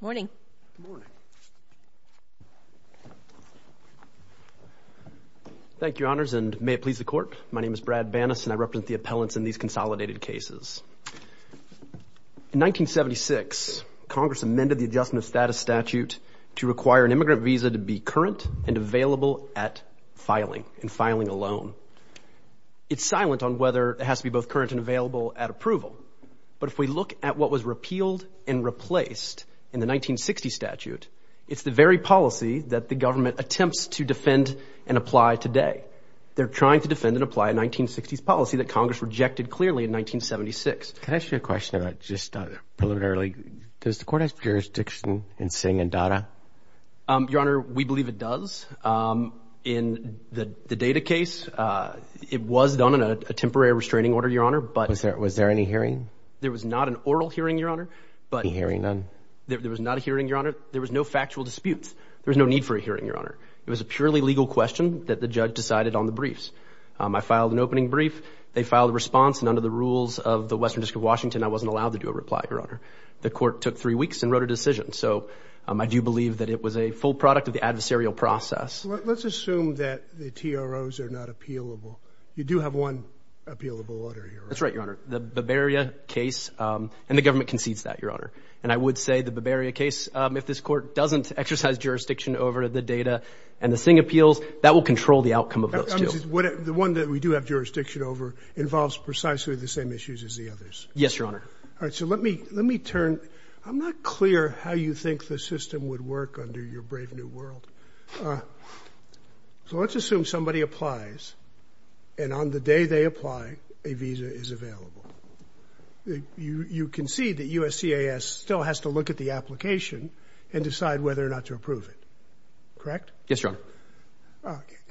Morning Thank You honors and may it please the court, my name is Brad Bannas and I represent the appellants in these consolidated cases in 1976 Congress amended the adjustment of status statute to require an immigrant visa to be current and available at filing and filing alone It's silent on whether it has to be both current and available at approval But if we look at what was repealed and replaced in the 1960 statute It's the very policy that the government attempts to defend and apply today They're trying to defend and apply a 1960s policy that Congress rejected clearly in 1976. Can I ask you a question about just Preliminarily does the court has jurisdiction in Singh and Dada? Your honor we believe it does in the the data case It was done in a temporary restraining order your honor, but was there was there any hearing there was not an oral hearing your honor But hearing none there was not a hearing your honor. There was no factual disputes. There was no need for a hearing your honor It was a purely legal question that the judge decided on the briefs. I filed an opening brief They filed a response and under the rules of the Western District of Washington I wasn't allowed to do a reply your honor. The court took three weeks and wrote a decision So I do believe that it was a full product of the adversarial process Let's assume that the TROs are not appealable. You do have one appealable order here. That's right, your honor The Bavaria case and the government concedes that your honor and I would say the Bavaria case If this court doesn't exercise jurisdiction over the data and the Singh appeals that will control the outcome of those You know, what the one that we do have jurisdiction over involves precisely the same issues as the others Yes, your honor. All right. So let me let me turn I'm not clear how you think the system would work under your brave new world So, let's assume somebody applies and on the day they apply a visa is available You you can see that USC is still has to look at the application and decide whether or not to approve it Correct. Yes, your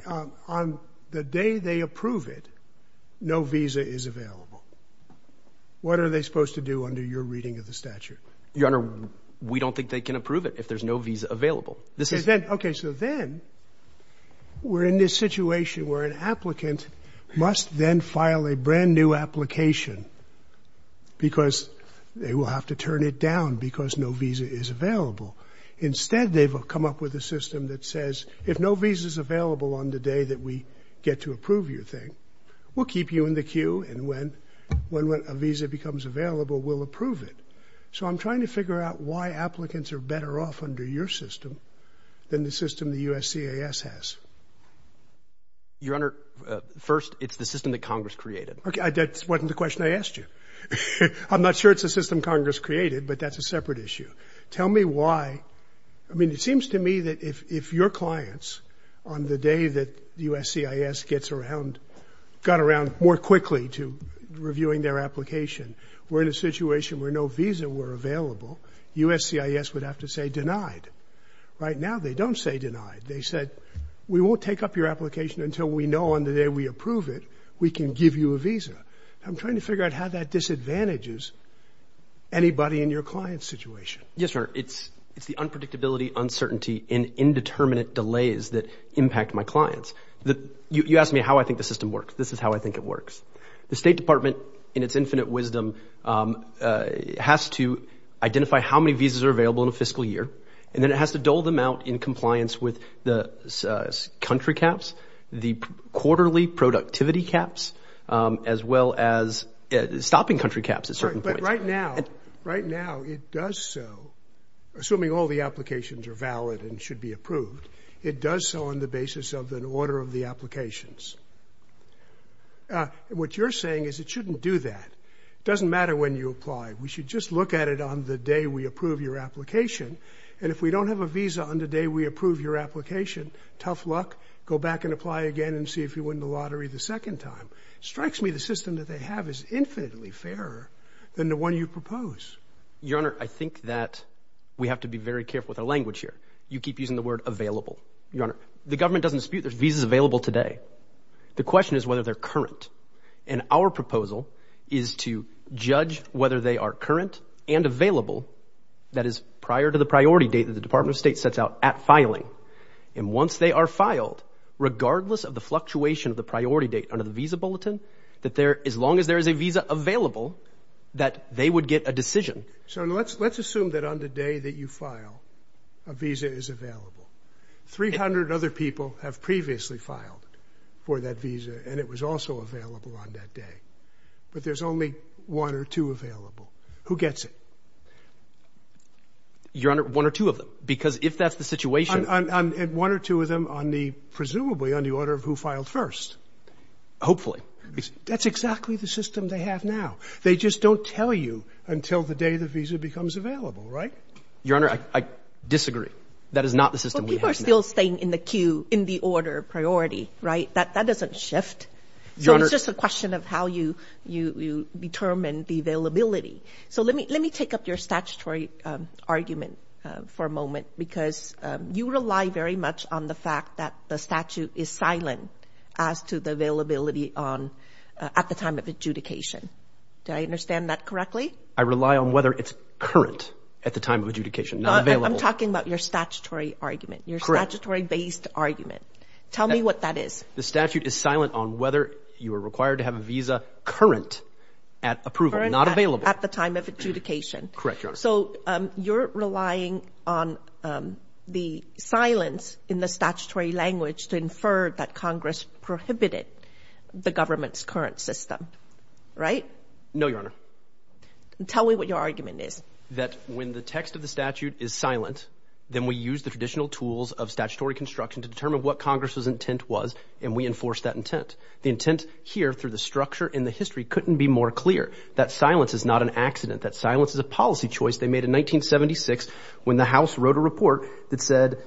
honor On the day they approve it. No visa is available What are they supposed to do under your reading of the statute your honor? We don't think they can approve it if there's no visa available. This is that okay, so then We're in this situation where an applicant must then file a brand new application Because they will have to turn it down because no visa is available Instead they've come up with a system that says if no visas available on the day that we get to approve your thing We'll keep you in the queue. And when when when a visa becomes available, we'll approve it So I'm trying to figure out why applicants are better off under your system than the system the USCIS has Your honor first, it's the system that Congress created. Okay, that's wasn't the question I asked you I'm not sure. It's a system Congress created, but that's a separate issue Tell me why I mean it seems to me that if your clients on the day that the USCIS gets around Got around more quickly to reviewing their application We're in a situation where no visa were available USCIS would have to say denied right now. They don't say denied They said we won't take up your application until we know on the day. We approve it. We can give you a visa I'm trying to figure out how that disadvantages Anybody in your client situation? Yes, sir It's it's the unpredictability uncertainty in indeterminate delays that impact my clients that you asked me how I think the system works This is how I think it works the State Department in its infinite wisdom has to identify how many visas are available in a fiscal year and then it has to dole them out in compliance with the country caps the quarterly productivity caps as well as Stopping country caps at certain point right now right now. It does so Assuming all the applications are valid and should be approved. It does so on the basis of an order of the applications And what you're saying is it shouldn't do that doesn't matter when you apply We should just look at it on the day. We approve your application And if we don't have a visa on the day We approve your application tough luck go back and apply again and see if you win the lottery the second time Strikes me the system that they have is infinitely fairer than the one you propose your honor I think that we have to be very careful with our language here. You keep using the word available Your honor the government doesn't dispute. There's visas available today The question is whether they're current and our proposal is to judge whether they are current and available That is prior to the priority date that the Department of State sets out at filing and once they are filed Regardless of the fluctuation of the priority date under the visa bulletin that there as long as there is a visa available That they would get a decision. So let's let's assume that on the day that you file a visa is available 300 other people have previously filed for that visa and it was also available on that day But there's only one or two available who gets it Your honor one or two of them because if that's the situation And one or two of them on the presumably on the order of who filed first Hopefully, that's exactly the system they have now. They just don't tell you until the day the visa becomes available, right your honor Disagree that is not the system. We are still staying in the queue in the order priority, right that that doesn't shift So it's just a question of how you you you determine the availability. So let me let me take up your statutory argument for a moment because You rely very much on the fact that the statute is silent as to the availability on At the time of adjudication. Do I understand that correctly? I rely on whether it's current at the time of adjudication. I'm talking about your statutory argument your statutory based argument Tell me what that is The statute is silent on whether you are required to have a visa current at approval not available at the time of adjudication Correct. So you're relying on The silence in the statutory language to infer that Congress prohibited the government's current system Right. No, your honor Tell me what your argument is that when the text of the statute is silent Then we use the traditional tools of statutory construction to determine what Congress's intent was and we enforce that intent the intent Here through the structure in the history couldn't be more clear that silence is not an accident that silence is a policy choice They made in 1976 when the house wrote a report that said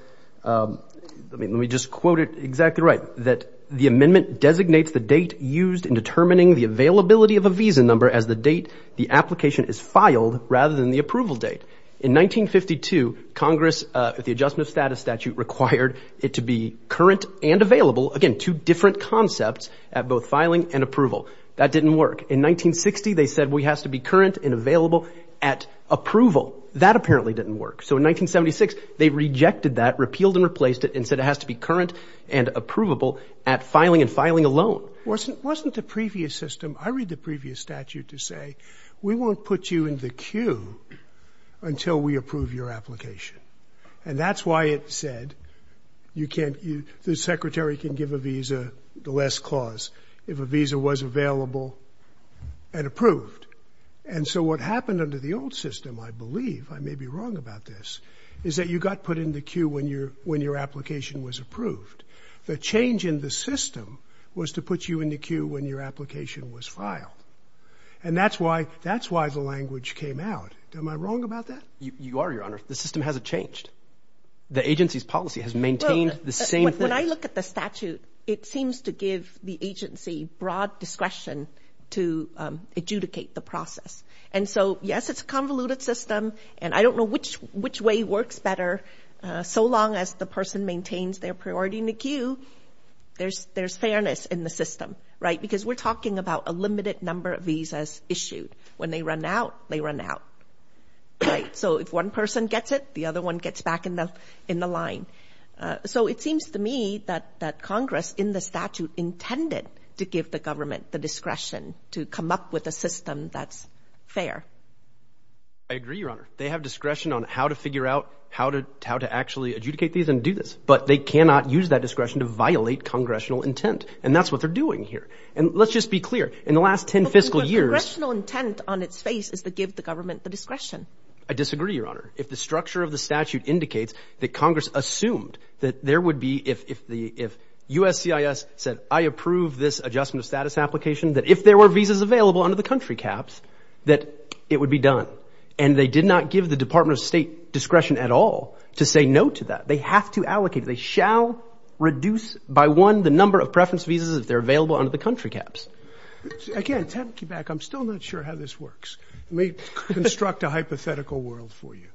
Let me just quote it exactly, right that the amendment designates the date used in determining the availability of a visa number as the date The application is filed rather than the approval date in 1952 Congress at the Adjustment of Status statute required it to be current and available again two different Concepts at both filing and approval that didn't work in 1960. They said we has to be current and available at Approval that apparently didn't work So in 1976, they rejected that repealed and replaced it and said it has to be current and approvable at filing and filing alone Wasn't wasn't the previous system. I read the previous statute to say we won't put you in the queue Until we approve your application and that's why it said You can't you the secretary can give a visa the last clause if a visa was available And approved and so what happened under the old system? I believe I may be wrong about this is that you got put in the queue when you're when your application was approved The change in the system was to put you in the queue when your application was filed And that's why that's why the language came out. Am I wrong about that? You are your honor. The system hasn't changed The agency's policy has maintained the same when I look at the statute. It seems to give the agency broad discretion to Adjudicate the process and so yes, it's a convoluted system, and I don't know which which way works better So long as the person maintains their priority in the queue There's there's fairness in the system, right? Because we're talking about a limited number of visas issued when they run out they run out Right. So if one person gets it the other one gets back in the in the line So it seems to me that that Congress in the statute intended to give the government the discretion to come up with a system That's fair. I Actually adjudicate these and do this but they cannot use that discretion to violate congressional intent and that's what they're doing here And let's just be clear in the last ten fiscal years No intent on its face is to give the government the discretion I disagree your honor if the structure of the statute indicates that Congress assumed that there would be if the if USCIS said I approve this adjustment of status application that if there were visas available under the country caps That it would be done and they did not give the Department of State discretion at all to say no to that They have to allocate they shall Reduce by one the number of preference visas if they're available under the country caps Again, I'm still not sure how this works. Let me construct a hypothetical world for you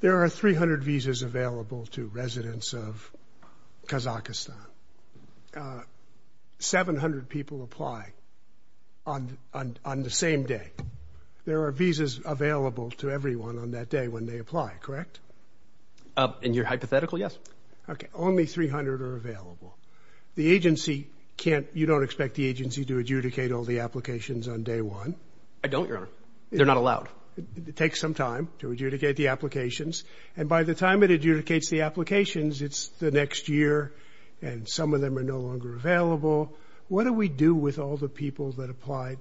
there are 300 visas available to residents of Kazakhstan 700 people apply on On the same day. There are visas available to everyone on that day when they apply, correct? In your hypothetical. Yes. Okay, only 300 are available The agency can't you don't expect the agency to adjudicate all the applications on day one. I don't your honor. They're not allowed It takes some time to adjudicate the applications and by the time it adjudicates the applications It's the next year and some of them are no longer available What do we do with all the people that applied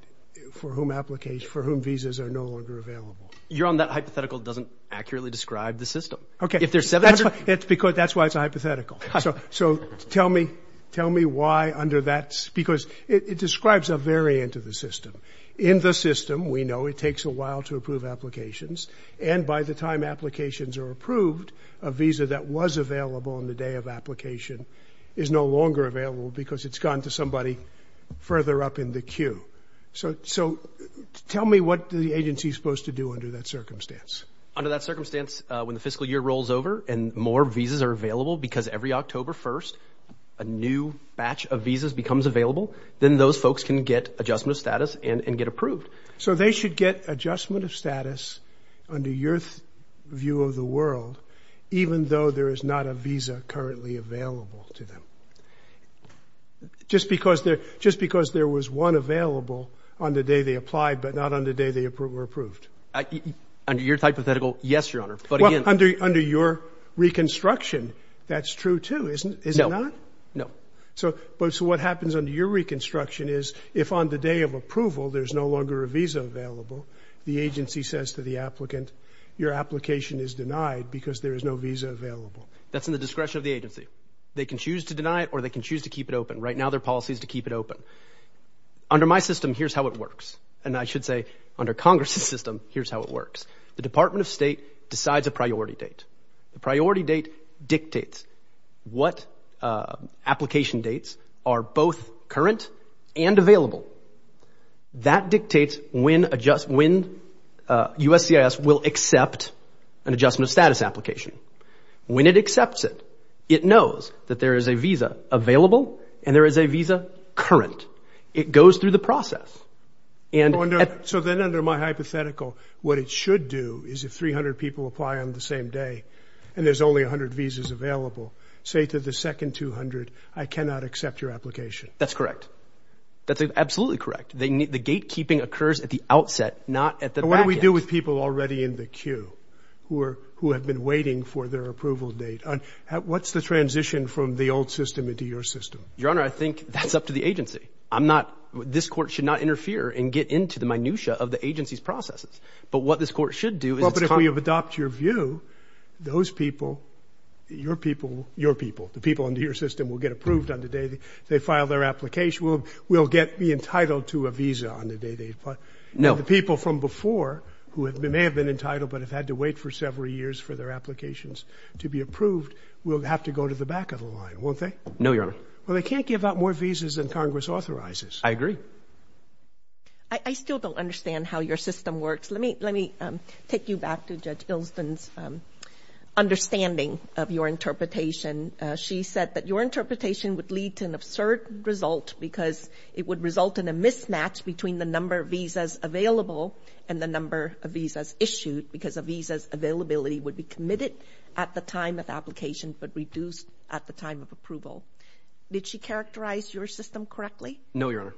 for whom application for whom visas are no longer available You're on that hypothetical doesn't accurately describe the system. Okay, if there's seven, that's what it's because that's why it's a hypothetical So so tell me tell me why under that because it describes a variant of the system in the system We know it takes a while to approve applications and by the time applications are approved a visa that was available on the day of Application is no longer available because it's gone to somebody further up in the queue, so so Tell me what the agency is supposed to do under that circumstance under that circumstance when the fiscal year rolls over and more visas are available because every October 1st a New batch of visas becomes available. Then those folks can get adjustment of status and and get approved So they should get adjustment of status under your view of the world Even though there is not a visa currently available to them Just because they're just because there was one available on the day they applied but not on the day they approve were approved Under your hypothetical. Yes, your honor, but under under your Reconstruction that's true, too. Isn't it? No, no So but so what happens under your reconstruction is if on the day of approval There's no longer a visa available The agency says to the applicant your application is denied because there is no visa available That's in the discretion of the agency. They can choose to deny it or they can choose to keep it open right now Their policy is to keep it open Under my system. Here's how it works and I should say under Congress's system Here's how it works. The Department of State decides a priority date the priority date dictates What? Application dates are both current and available That dictates when adjust when USCIS will accept an adjustment of status application When it accepts it, it knows that there is a visa available and there is a visa current it goes through the process And so then under my hypothetical what it should do is if 300 people apply on the same day And there's only 100 visas available say to the second 200. I cannot accept your application. That's correct That's absolutely correct They need the gatekeeping occurs at the outset not at the what do we do with people already in the queue? Who are who have been waiting for their approval date on what's the transition from the old system into your system your honor? I think that's up to the agency I'm not this court should not interfere and get into the minutiae of the agency's processes But what this court should do is probably have adopt your view those people Your people your people the people under your system will get approved on the day they file their application We'll we'll get me entitled to a visa on the day They but know the people from before who have been may have been entitled But have had to wait for several years for their applications to be approved We'll have to go to the back of the line won't they know your honor. Well, they can't give out more visas and Congress authorizes I agree I Still don't understand how your system works. Let me let me take you back to judge Bilston's Understanding of your interpretation she said that your interpretation would lead to an absurd result because it would result in a mismatch between the number of visas available and The number of visas issued because of visas availability would be committed at the time of application But reduced at the time of approval Did she characterize your system correctly? No, your honor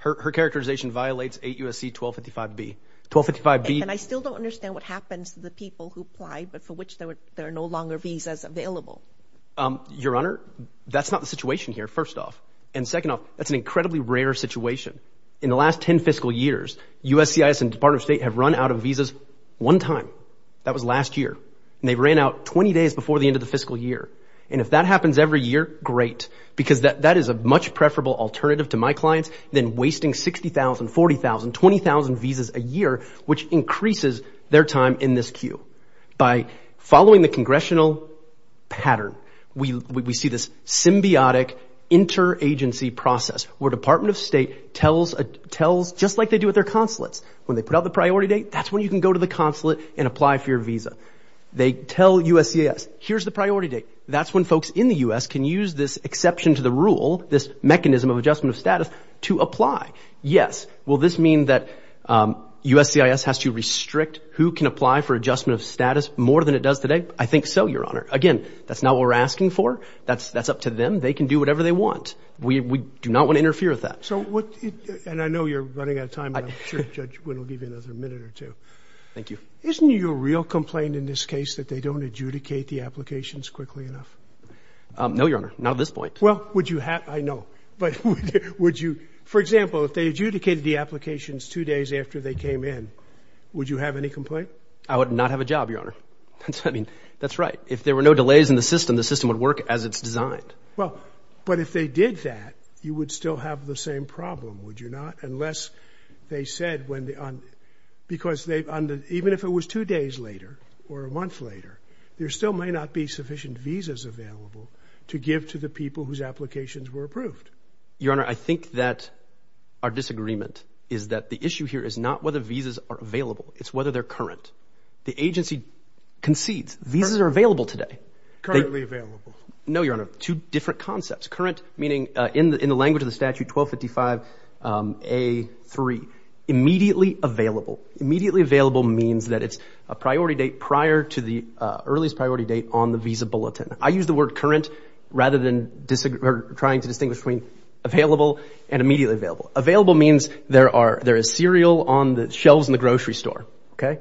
her characterization violates 8 USC 1255 be 1255 B And I still don't understand what happens to the people who apply but for which there were there are no longer visas available Your honor that's not the situation here. First off and second off That's an incredibly rare situation in the last 10 fiscal years USCIS and Department of State have run out of visas one time That was last year and they ran out 20 days before the end of the fiscal year And if that happens every year great because that that is a much preferable alternative to my clients then wasting 60,000 40,000 20,000 visas a year which increases their time in this queue by following the congressional Pattern we we see this symbiotic Interagency process where Department of State tells a tells just like they do with their consulates when they put out the priority date That's when you can go to the consulate and apply for your visa. They tell USCIS. Here's the priority date That's when folks in the u.s Can use this exception to the rule this mechanism of adjustment of status to apply. Yes. Will this mean that? USCIS has to restrict who can apply for adjustment of status more than it does today. I think so your honor again That's not what we're asking for. That's that's up to them. They can do whatever they want We do not want to interfere with that. So what and I know you're running out of time Thank you, isn't your real complaint in this case that they don't adjudicate the applications quickly enough No, your honor. Not at this point. Well, would you have I know but would you for example? If they adjudicated the applications two days after they came in, would you have any complaint? I would not have a job your honor That's I mean, that's right. If there were no delays in the system. The system would work as it's designed Well, but if they did that you would still have the same problem. Would you not unless they said when the on? Because they've under even if it was two days later or a month later There still may not be sufficient visas available to give to the people whose applications were approved your honor I think that our disagreement is that the issue here is not whether visas are available. It's whether they're current the agency Concedes visas are available today No, your honor two different concepts current meaning in the language of the statute 1255 a three immediately available immediately available means that it's a priority date prior to the Earliest priority date on the visa bulletin. I use the word current rather than disagree trying to distinguish between Available and immediately available available means there are there is cereal on the shelves in the grocery store, okay?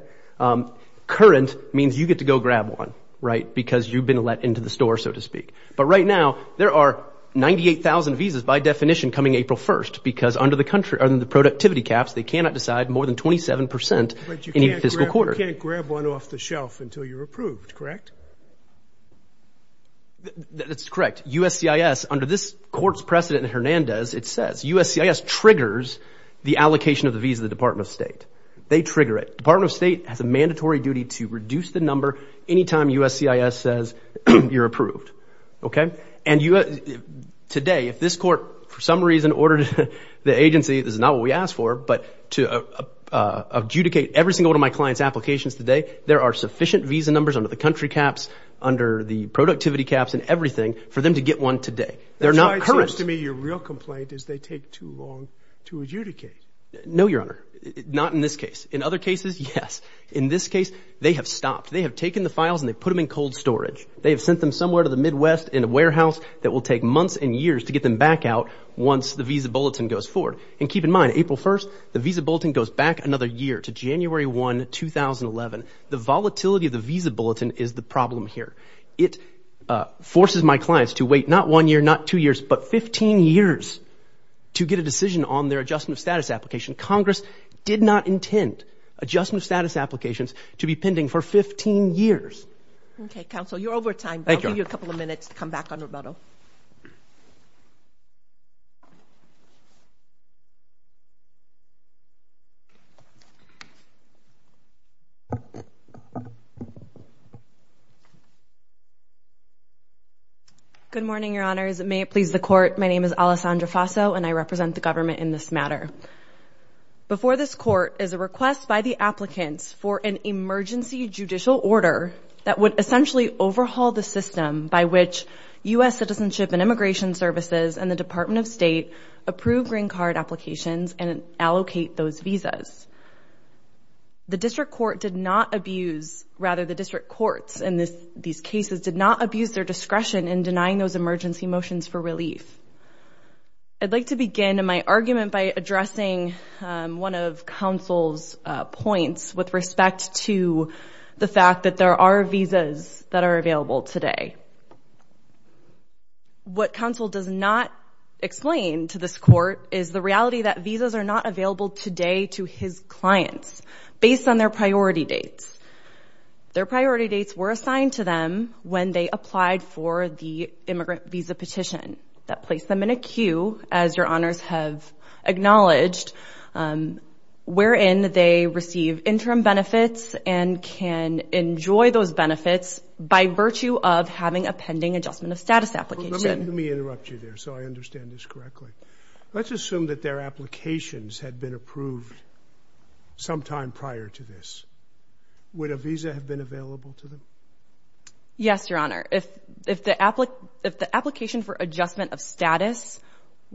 Current means you get to go grab one right because you've been let into the store so to speak But right now there are 98,000 visas by definition coming April 1st because under the country are than the productivity caps They cannot decide more than 27% any fiscal quarter can't grab one off the shelf until you're approved, correct? It's correct USC is under this courts precedent Hernandez It says USC is triggers the allocation of the visa the Department of State They trigger it Department of State has a mandatory duty to reduce the number anytime USC is says you're approved Okay, and you know If this court for some reason ordered the agency, this is not what we asked for but to Adjudicate every single one of my clients applications today There are sufficient visa numbers under the country caps under the productivity caps and everything for them to get one today They're not correct to me. Your real complaint is they take too long to adjudicate. No, your honor Not in this case in other cases. Yes in this case. They have stopped They have taken the files and they put them in cold storage They have sent them somewhere to the Midwest in a warehouse that will take months and years to get them back out Once the visa bulletin goes forward and keep in mind April 1st, the visa bulletin goes back another year to January 1 2011 the volatility of the visa bulletin is the problem here it Forces my clients to wait not one year not two years, but 15 years To get a decision on their adjustment of status application Congress did not intend Adjustment of status applications to be pending for 15 years Okay council you're over time thank you a couple of minutes to come back on Roberto Good morning, your honor is it may it please the court. My name is Alessandra Faso and I represent the government in this matter Before this court is a request by the applicants for an emergency judicial order that would essentially overhaul the system by which US citizenship and immigration services and the Department of State approved green card applications and allocate those visas The district court did not abuse rather the district courts in this these cases did not abuse their discretion in denying those emergency motions for relief I'd like to begin in my argument by addressing one of counsel's points with respect to The fact that there are visas that are available today What counsel does not Explain to this court is the reality that visas are not available today to his clients based on their priority dates Their priority dates were assigned to them when they applied for the immigrant visa petition that placed them in a queue as your honors have acknowledged Wherein they receive interim benefits and can enjoy those benefits by virtue of having a pending adjustment of status Application me interrupt you there. So I understand this correctly. Let's assume that their applications had been approved sometime prior to this Would a visa have been available to them? Yes, your honor. If if the applicant if the application for adjustment of status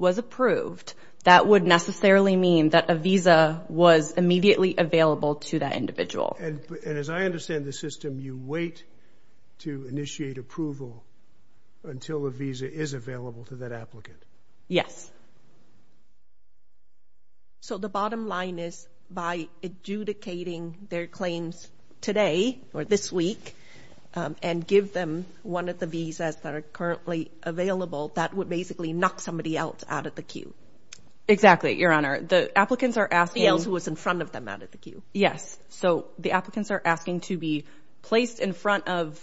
Was approved that would necessarily mean that a visa was immediately available to that individual And as I understand the system you wait to initiate approval Until the visa is available to that applicant. Yes So the bottom line is by Adjudicating their claims today or this week And give them one of the visas that are currently available. That would basically knock somebody out out of the queue Exactly, your honor. The applicants are asking else who was in front of them out of the queue yes, so the applicants are asking to be placed in front of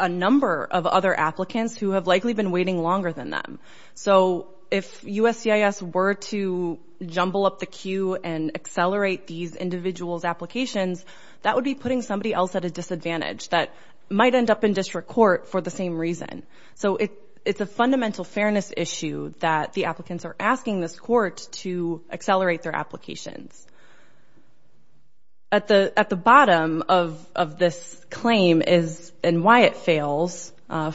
a Number of other applicants who have likely been waiting longer than them So if USCIS were to jumble up the queue and accelerate these individuals applications That would be putting somebody else at a disadvantage that might end up in district court for the same reason So it it's a fundamental fairness issue that the applicants are asking this court to accelerate their applications At the at the bottom of of this claim is and why it fails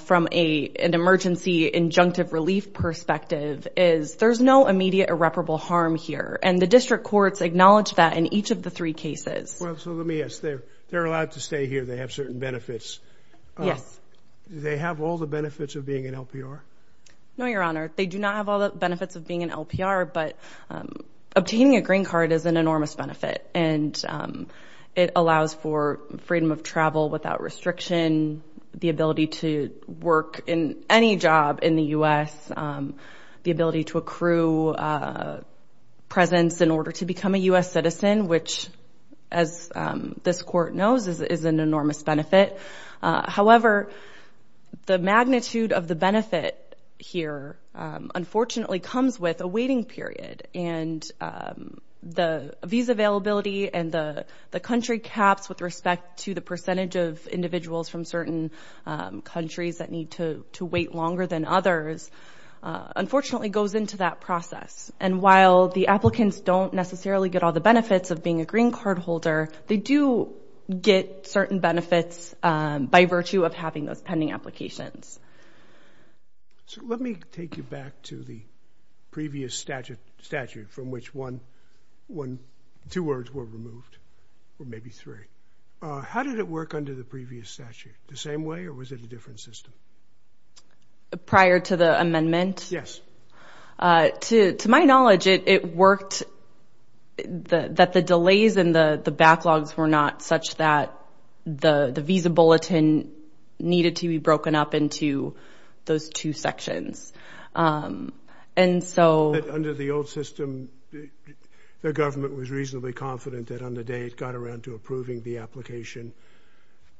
From a an emergency Injunctive relief perspective is there's no immediate irreparable harm here and the district courts acknowledge that in each of the three cases Well, so let me ask there. They're allowed to stay here. They have certain benefits Yes, they have all the benefits of being an LPR. No, your honor. They do not have all the benefits of being an LPR, but obtaining a green card is an enormous benefit and It allows for freedom of travel without restriction the ability to work in any job in the u.s. the ability to accrue Presence in order to become a US citizen, which as This court knows is an enormous benefit however the magnitude of the benefit here unfortunately comes with a waiting period and The visa availability and the the country caps with respect to the percentage of individuals from certain Countries that need to to wait longer than others Unfortunately goes into that process and while the applicants don't necessarily get all the benefits of being a green card holder They do get certain benefits by virtue of having those pending applications So, let me take you back to the previous statute statute from which one one two words were removed Or maybe three how did it work under the previous statute the same way or was it a different system? Prior to the amendment. Yes To to my knowledge it it worked The that the delays and the the backlogs were not such that the the visa bulletin Needed to be broken up into those two sections and so under the old system the government was reasonably confident that on the day it got around to approving the application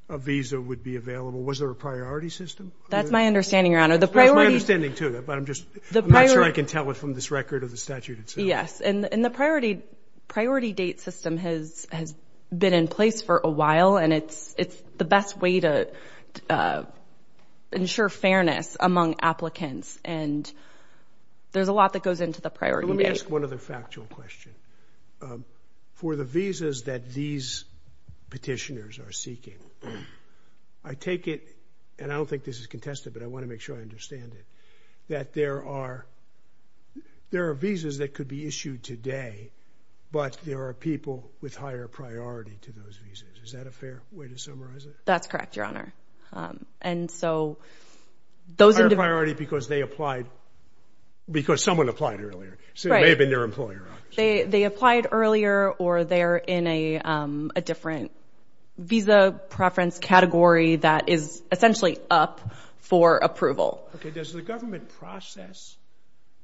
a Visa would be available. Was there a priority system? That's my understanding your honor the priority standing to that But I'm just the prior I can tell it from this record of the statute. It's yes and in the priority priority date system has has been in place for a while and it's it's the best way to ensure fairness among applicants and There's a lot that goes into the priority. Let me ask one of the factual question for the visas that these petitioners are seeking I Take it and I don't think this is contested, but I want to make sure I understand it that there are There are visas that could be issued today But there are people with higher priority to those visas. Is that a fair way to summarize it? That's correct. Your honor and so Those are priority because they applied Because someone applied earlier. So maybe their employer they they applied earlier or they're in a different Visa preference category that is essentially up for approval. Okay, does the government process?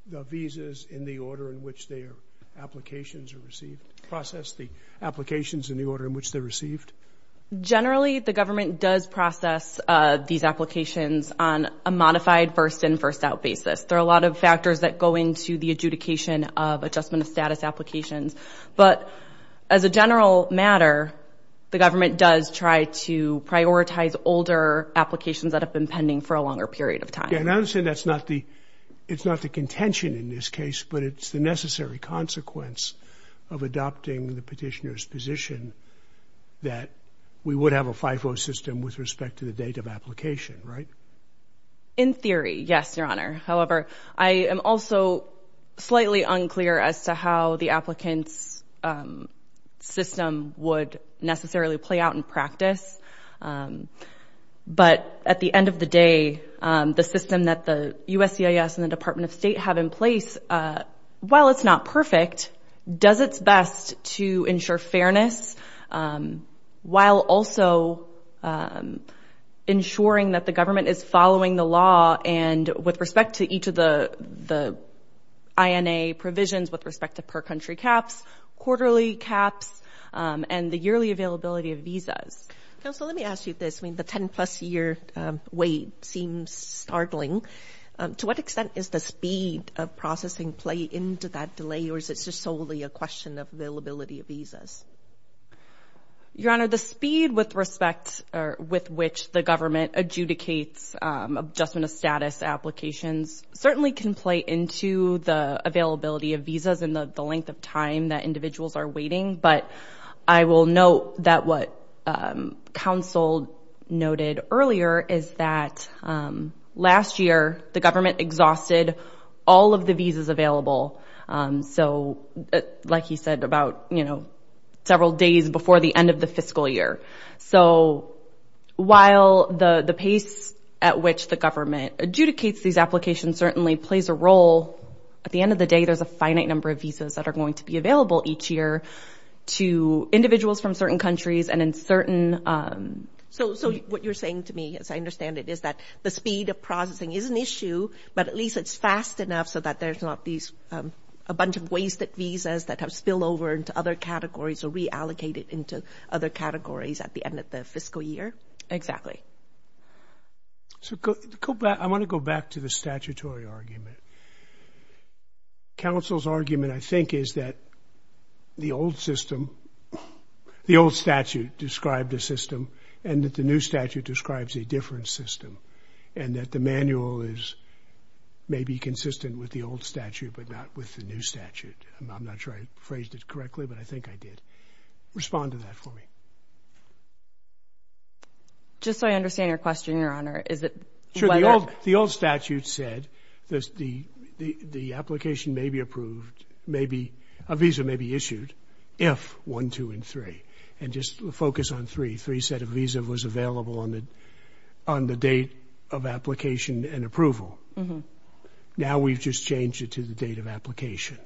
the visas in the order in which their Applications are received process the applications in the order in which they received Generally the government does process these applications on a modified first in first out basis there are a lot of factors that go into the adjudication of adjustment of status applications, but as a general matter The government does try to prioritize older applications that have been pending for a longer period of time And I understand that's not the it's not the contention in this case But it's the necessary consequence of adopting the petitioner's position That we would have a FIFO system with respect to the date of application, right in theory, yes, your honor however, I am also slightly unclear as to how the applicants System would necessarily play out in practice But at the end of the day the system that the USCIS and the Department of State have in place While it's not perfect does its best to ensure fairness while also Ensuring that the government is following the law and with respect to each of the the Ina provisions with respect to per country caps quarterly caps And the yearly availability of visas. So let me ask you this. I mean the 10 plus year wait seems Startling to what extent is the speed of processing play into that delay or is it's just solely a question of availability of visas Your honor the speed with respect or with which the government adjudicates adjustment of status applications certainly can play into the availability of visas in the length of time that individuals are waiting, but I will note that what council noted earlier is that Last year the government exhausted all of the visas available so Like he said about you know, several days before the end of the fiscal year. So While the the pace at which the government adjudicates these applications certainly plays a role At the end of the day, there's a finite number of visas that are going to be available each year to individuals from certain countries and in certain So so what you're saying to me as I understand it is that the speed of processing is an issue But at least it's fast enough so that there's not these a bunch of wasted visas that have spilled over into other Categories or reallocated into other categories at the end of the fiscal year exactly So go back. I want to go back to the statutory argument Council's argument I think is that the old system The old statute described a system and that the new statute describes a different system and that the manual is May be consistent with the old statute, but not with the new statute I'm not sure I phrased it correctly, but I think I did Respond to that for me Just so I understand your question your honor is it sure the old the old statute said this the Application may be approved Maybe a visa may be issued if one two and three and just focus on three three set of visa was available on it on the date of application and approval Now we've just changed it to the date of application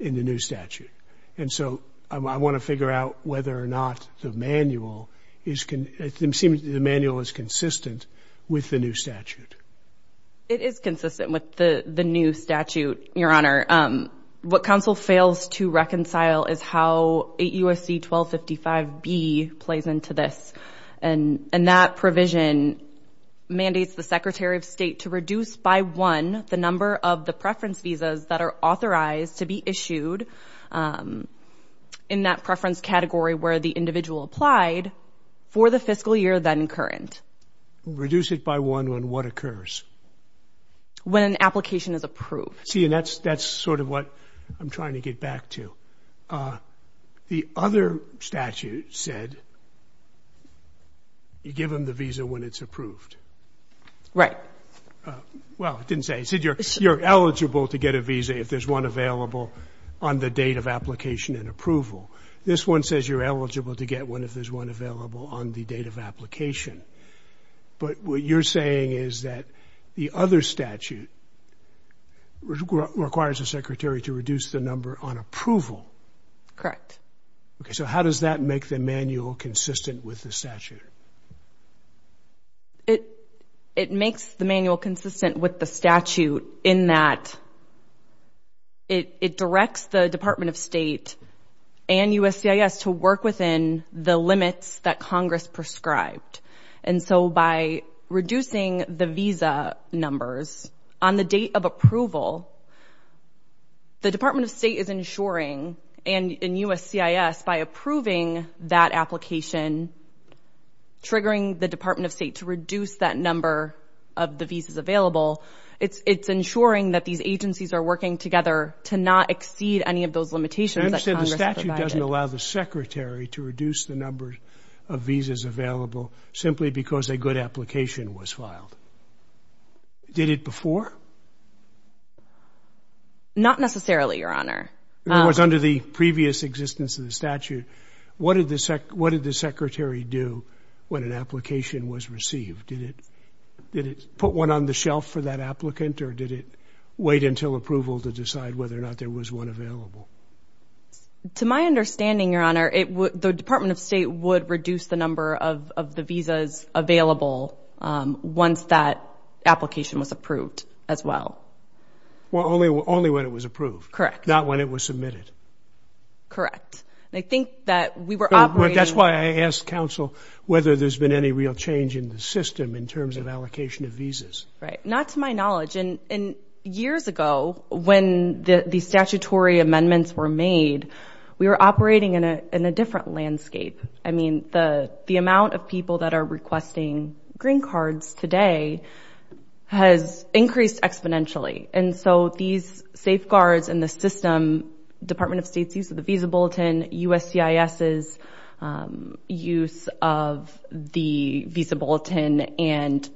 In the new statute and so I want to figure out whether or not the manual is Can it seem to the manual is consistent with the new statute? It is consistent with the the new statute your honor what council fails to reconcile is how a USC 1255 B plays into this and and that provision Mandates the Secretary of State to reduce by one the number of the preference visas that are authorized to be issued in that preference category where the individual applied for the fiscal year then current Reduce it by one when what occurs When an application is approved see and that's that's sort of what I'm trying to get back to the other statute said You give them the visa when it's approved right Well, it didn't say said you're you're eligible to get a visa if there's one available on the date of application and approval This one says you're eligible to get one if there's one available on the date of application But what you're saying? Is that the other statute? Requires the secretary to reduce the number on approval correct. Okay. So how does that make the manual consistent with the statute? It it makes the manual consistent with the statute in that It it directs the Department of State And USCIS to work within the limits that Congress prescribed and so by Reducing the visa numbers on the date of approval The Department of State is ensuring and in USCIS by approving that application Triggering the Department of State to reduce that number of the visas available It's it's ensuring that these agencies are working together to not exceed any of those limitations I said the statute doesn't allow the secretary to reduce the number of visas available Simply because a good application was filed Did it before? Not necessarily your honor it was under the previous existence of the statute What did the SEC? What did the secretary do when an application was received? Did it put one on the shelf for that applicant or did it wait until approval to decide whether or not there was one available? To my understanding your honor it would the Department of State would reduce the number of the visas available Once that application was approved as well Well only only when it was approved correct not when it was submitted Correct I think that we were that's why I asked counsel whether there's been any real change in the system in terms of allocation of Visas right not to my knowledge and in years ago when the the statutory amendments were made We were operating in a in a different landscape. I mean the the amount of people that are requesting green cards today Has increased exponentially and so these safeguards in the system Department of State's use of the Visa Bulletin USCIS's use of the Visa Bulletin and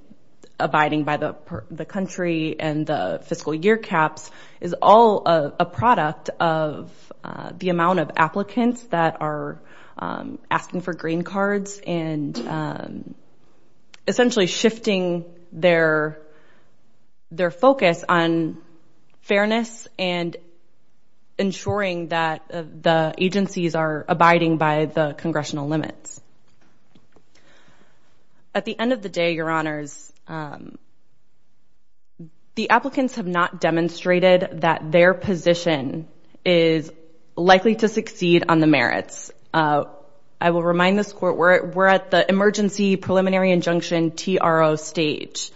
abiding by the the country and the fiscal year caps is all a product of the amount of applicants that are asking for green cards and Essentially shifting their their focus on fairness and Ensuring that the agencies are abiding by the congressional limits At the end of the day your honors The applicants have not demonstrated that their position is Likely to succeed on the merits. I will remind this court where we're at the emergency preliminary injunction TRO stage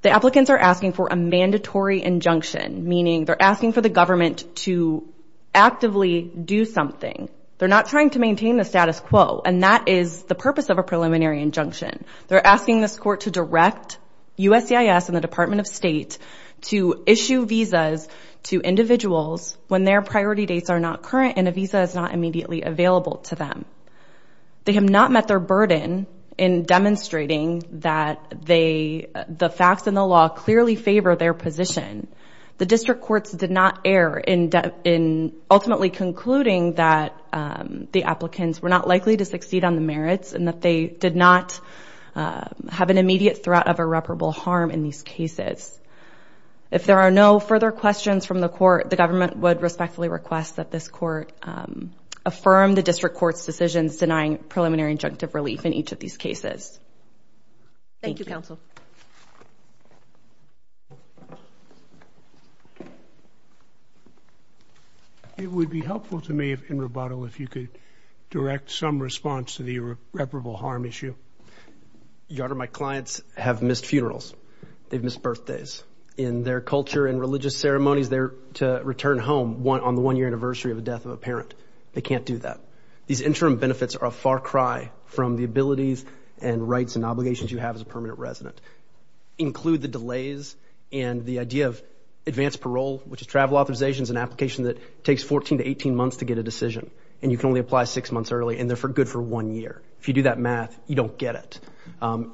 The applicants are asking for a mandatory injunction meaning they're asking for the government to Actively do something. They're not trying to maintain the status quo and that is the purpose of a preliminary injunction They're asking this court to direct USCIS and the Department of State to issue visas to Individuals when their priority dates are not current and a visa is not immediately available to them They have not met their burden in The facts and the law clearly favor their position the district courts did not err in depth in ultimately concluding that The applicants were not likely to succeed on the merits and that they did not Have an immediate threat of irreparable harm in these cases If there are no further questions from the court, the government would respectfully request that this court Affirm the district courts decisions denying preliminary injunctive relief in each of these cases Thank You counsel It would be helpful to me if in rebuttal if you could direct some response to the irreparable harm issue Your honor my clients have missed funerals. They've missed birthdays in their culture and religious ceremonies They're to return home one on the one-year anniversary of the death of a parent They can't do that These interim benefits are a far cry from the abilities and rights and obligations you have as a permanent resident include the delays and the idea of advanced parole Which is travel authorizations an application that takes 14 to 18 months to get a decision and you can only apply six months early and They're for good for one year. If you do that math, you don't get it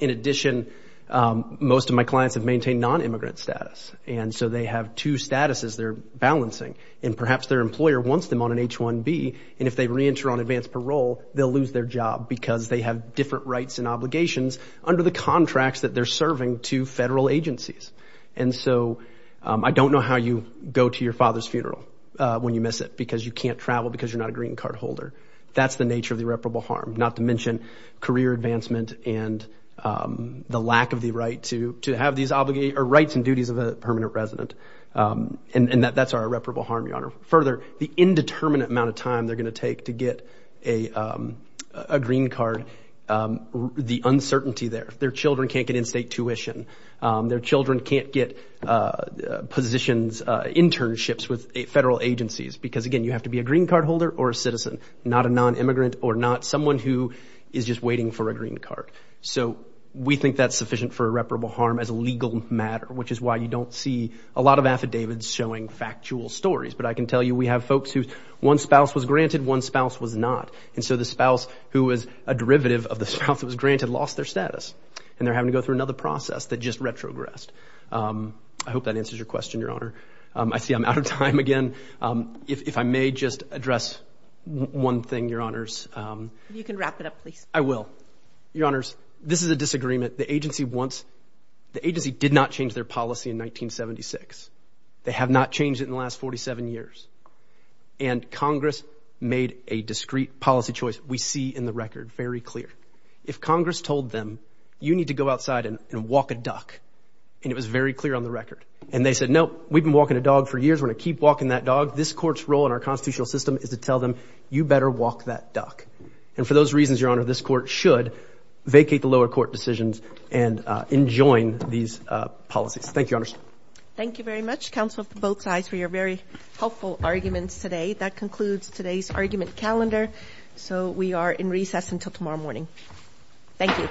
in addition Most of my clients have maintained non-immigrant status And so they have two statuses They're balancing and perhaps their employer wants them on an h-1b and if they re-enter on advanced parole They'll lose their job because they have different rights and obligations under the contracts that they're serving to federal agencies And so I don't know how you go to your father's funeral When you miss it because you can't travel because you're not a green card holder that's the nature of the reputable harm not to mention career advancement and The lack of the right to to have these obligate or rights and duties of a permanent resident and that that's our reputable harm your honor further the indeterminate amount of time they're gonna take to get a green card The uncertainty there their children can't get in-state tuition their children can't get positions internships with federal agencies because again You have to be a green card holder or a citizen not a non-immigrant or not someone who is just waiting for a green card So we think that's sufficient for a reputable harm as a legal matter Which is why you don't see a lot of affidavits showing factual stories But I can tell you we have folks who one spouse was granted one spouse was not and so the spouse who is a derivative Of the spouse that was granted lost their status and they're having to go through another process that just retrogressed I hope that answers your question your honor. I see I'm out of time again If I may just address One thing your honors you can wrap it up, please. I will your honors This is a disagreement the agency wants the agency did not change their policy in 1976 they have not changed it in the last 47 years and Congress made a discreet policy choice We see in the record very clear if Congress told them you need to go outside and walk a duck And it was very clear on the record and they said nope. We've been walking a dog for years We're gonna keep walking that dog this courts role in our constitutional system is to tell them you better walk that duck And for those reasons your honor this court should vacate the lower court decisions and enjoin these Policies. Thank you honest. Thank you very much council for both sides for your very helpful arguments today that concludes today's argument calendar So we are in recess until tomorrow morning Thank you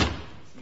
You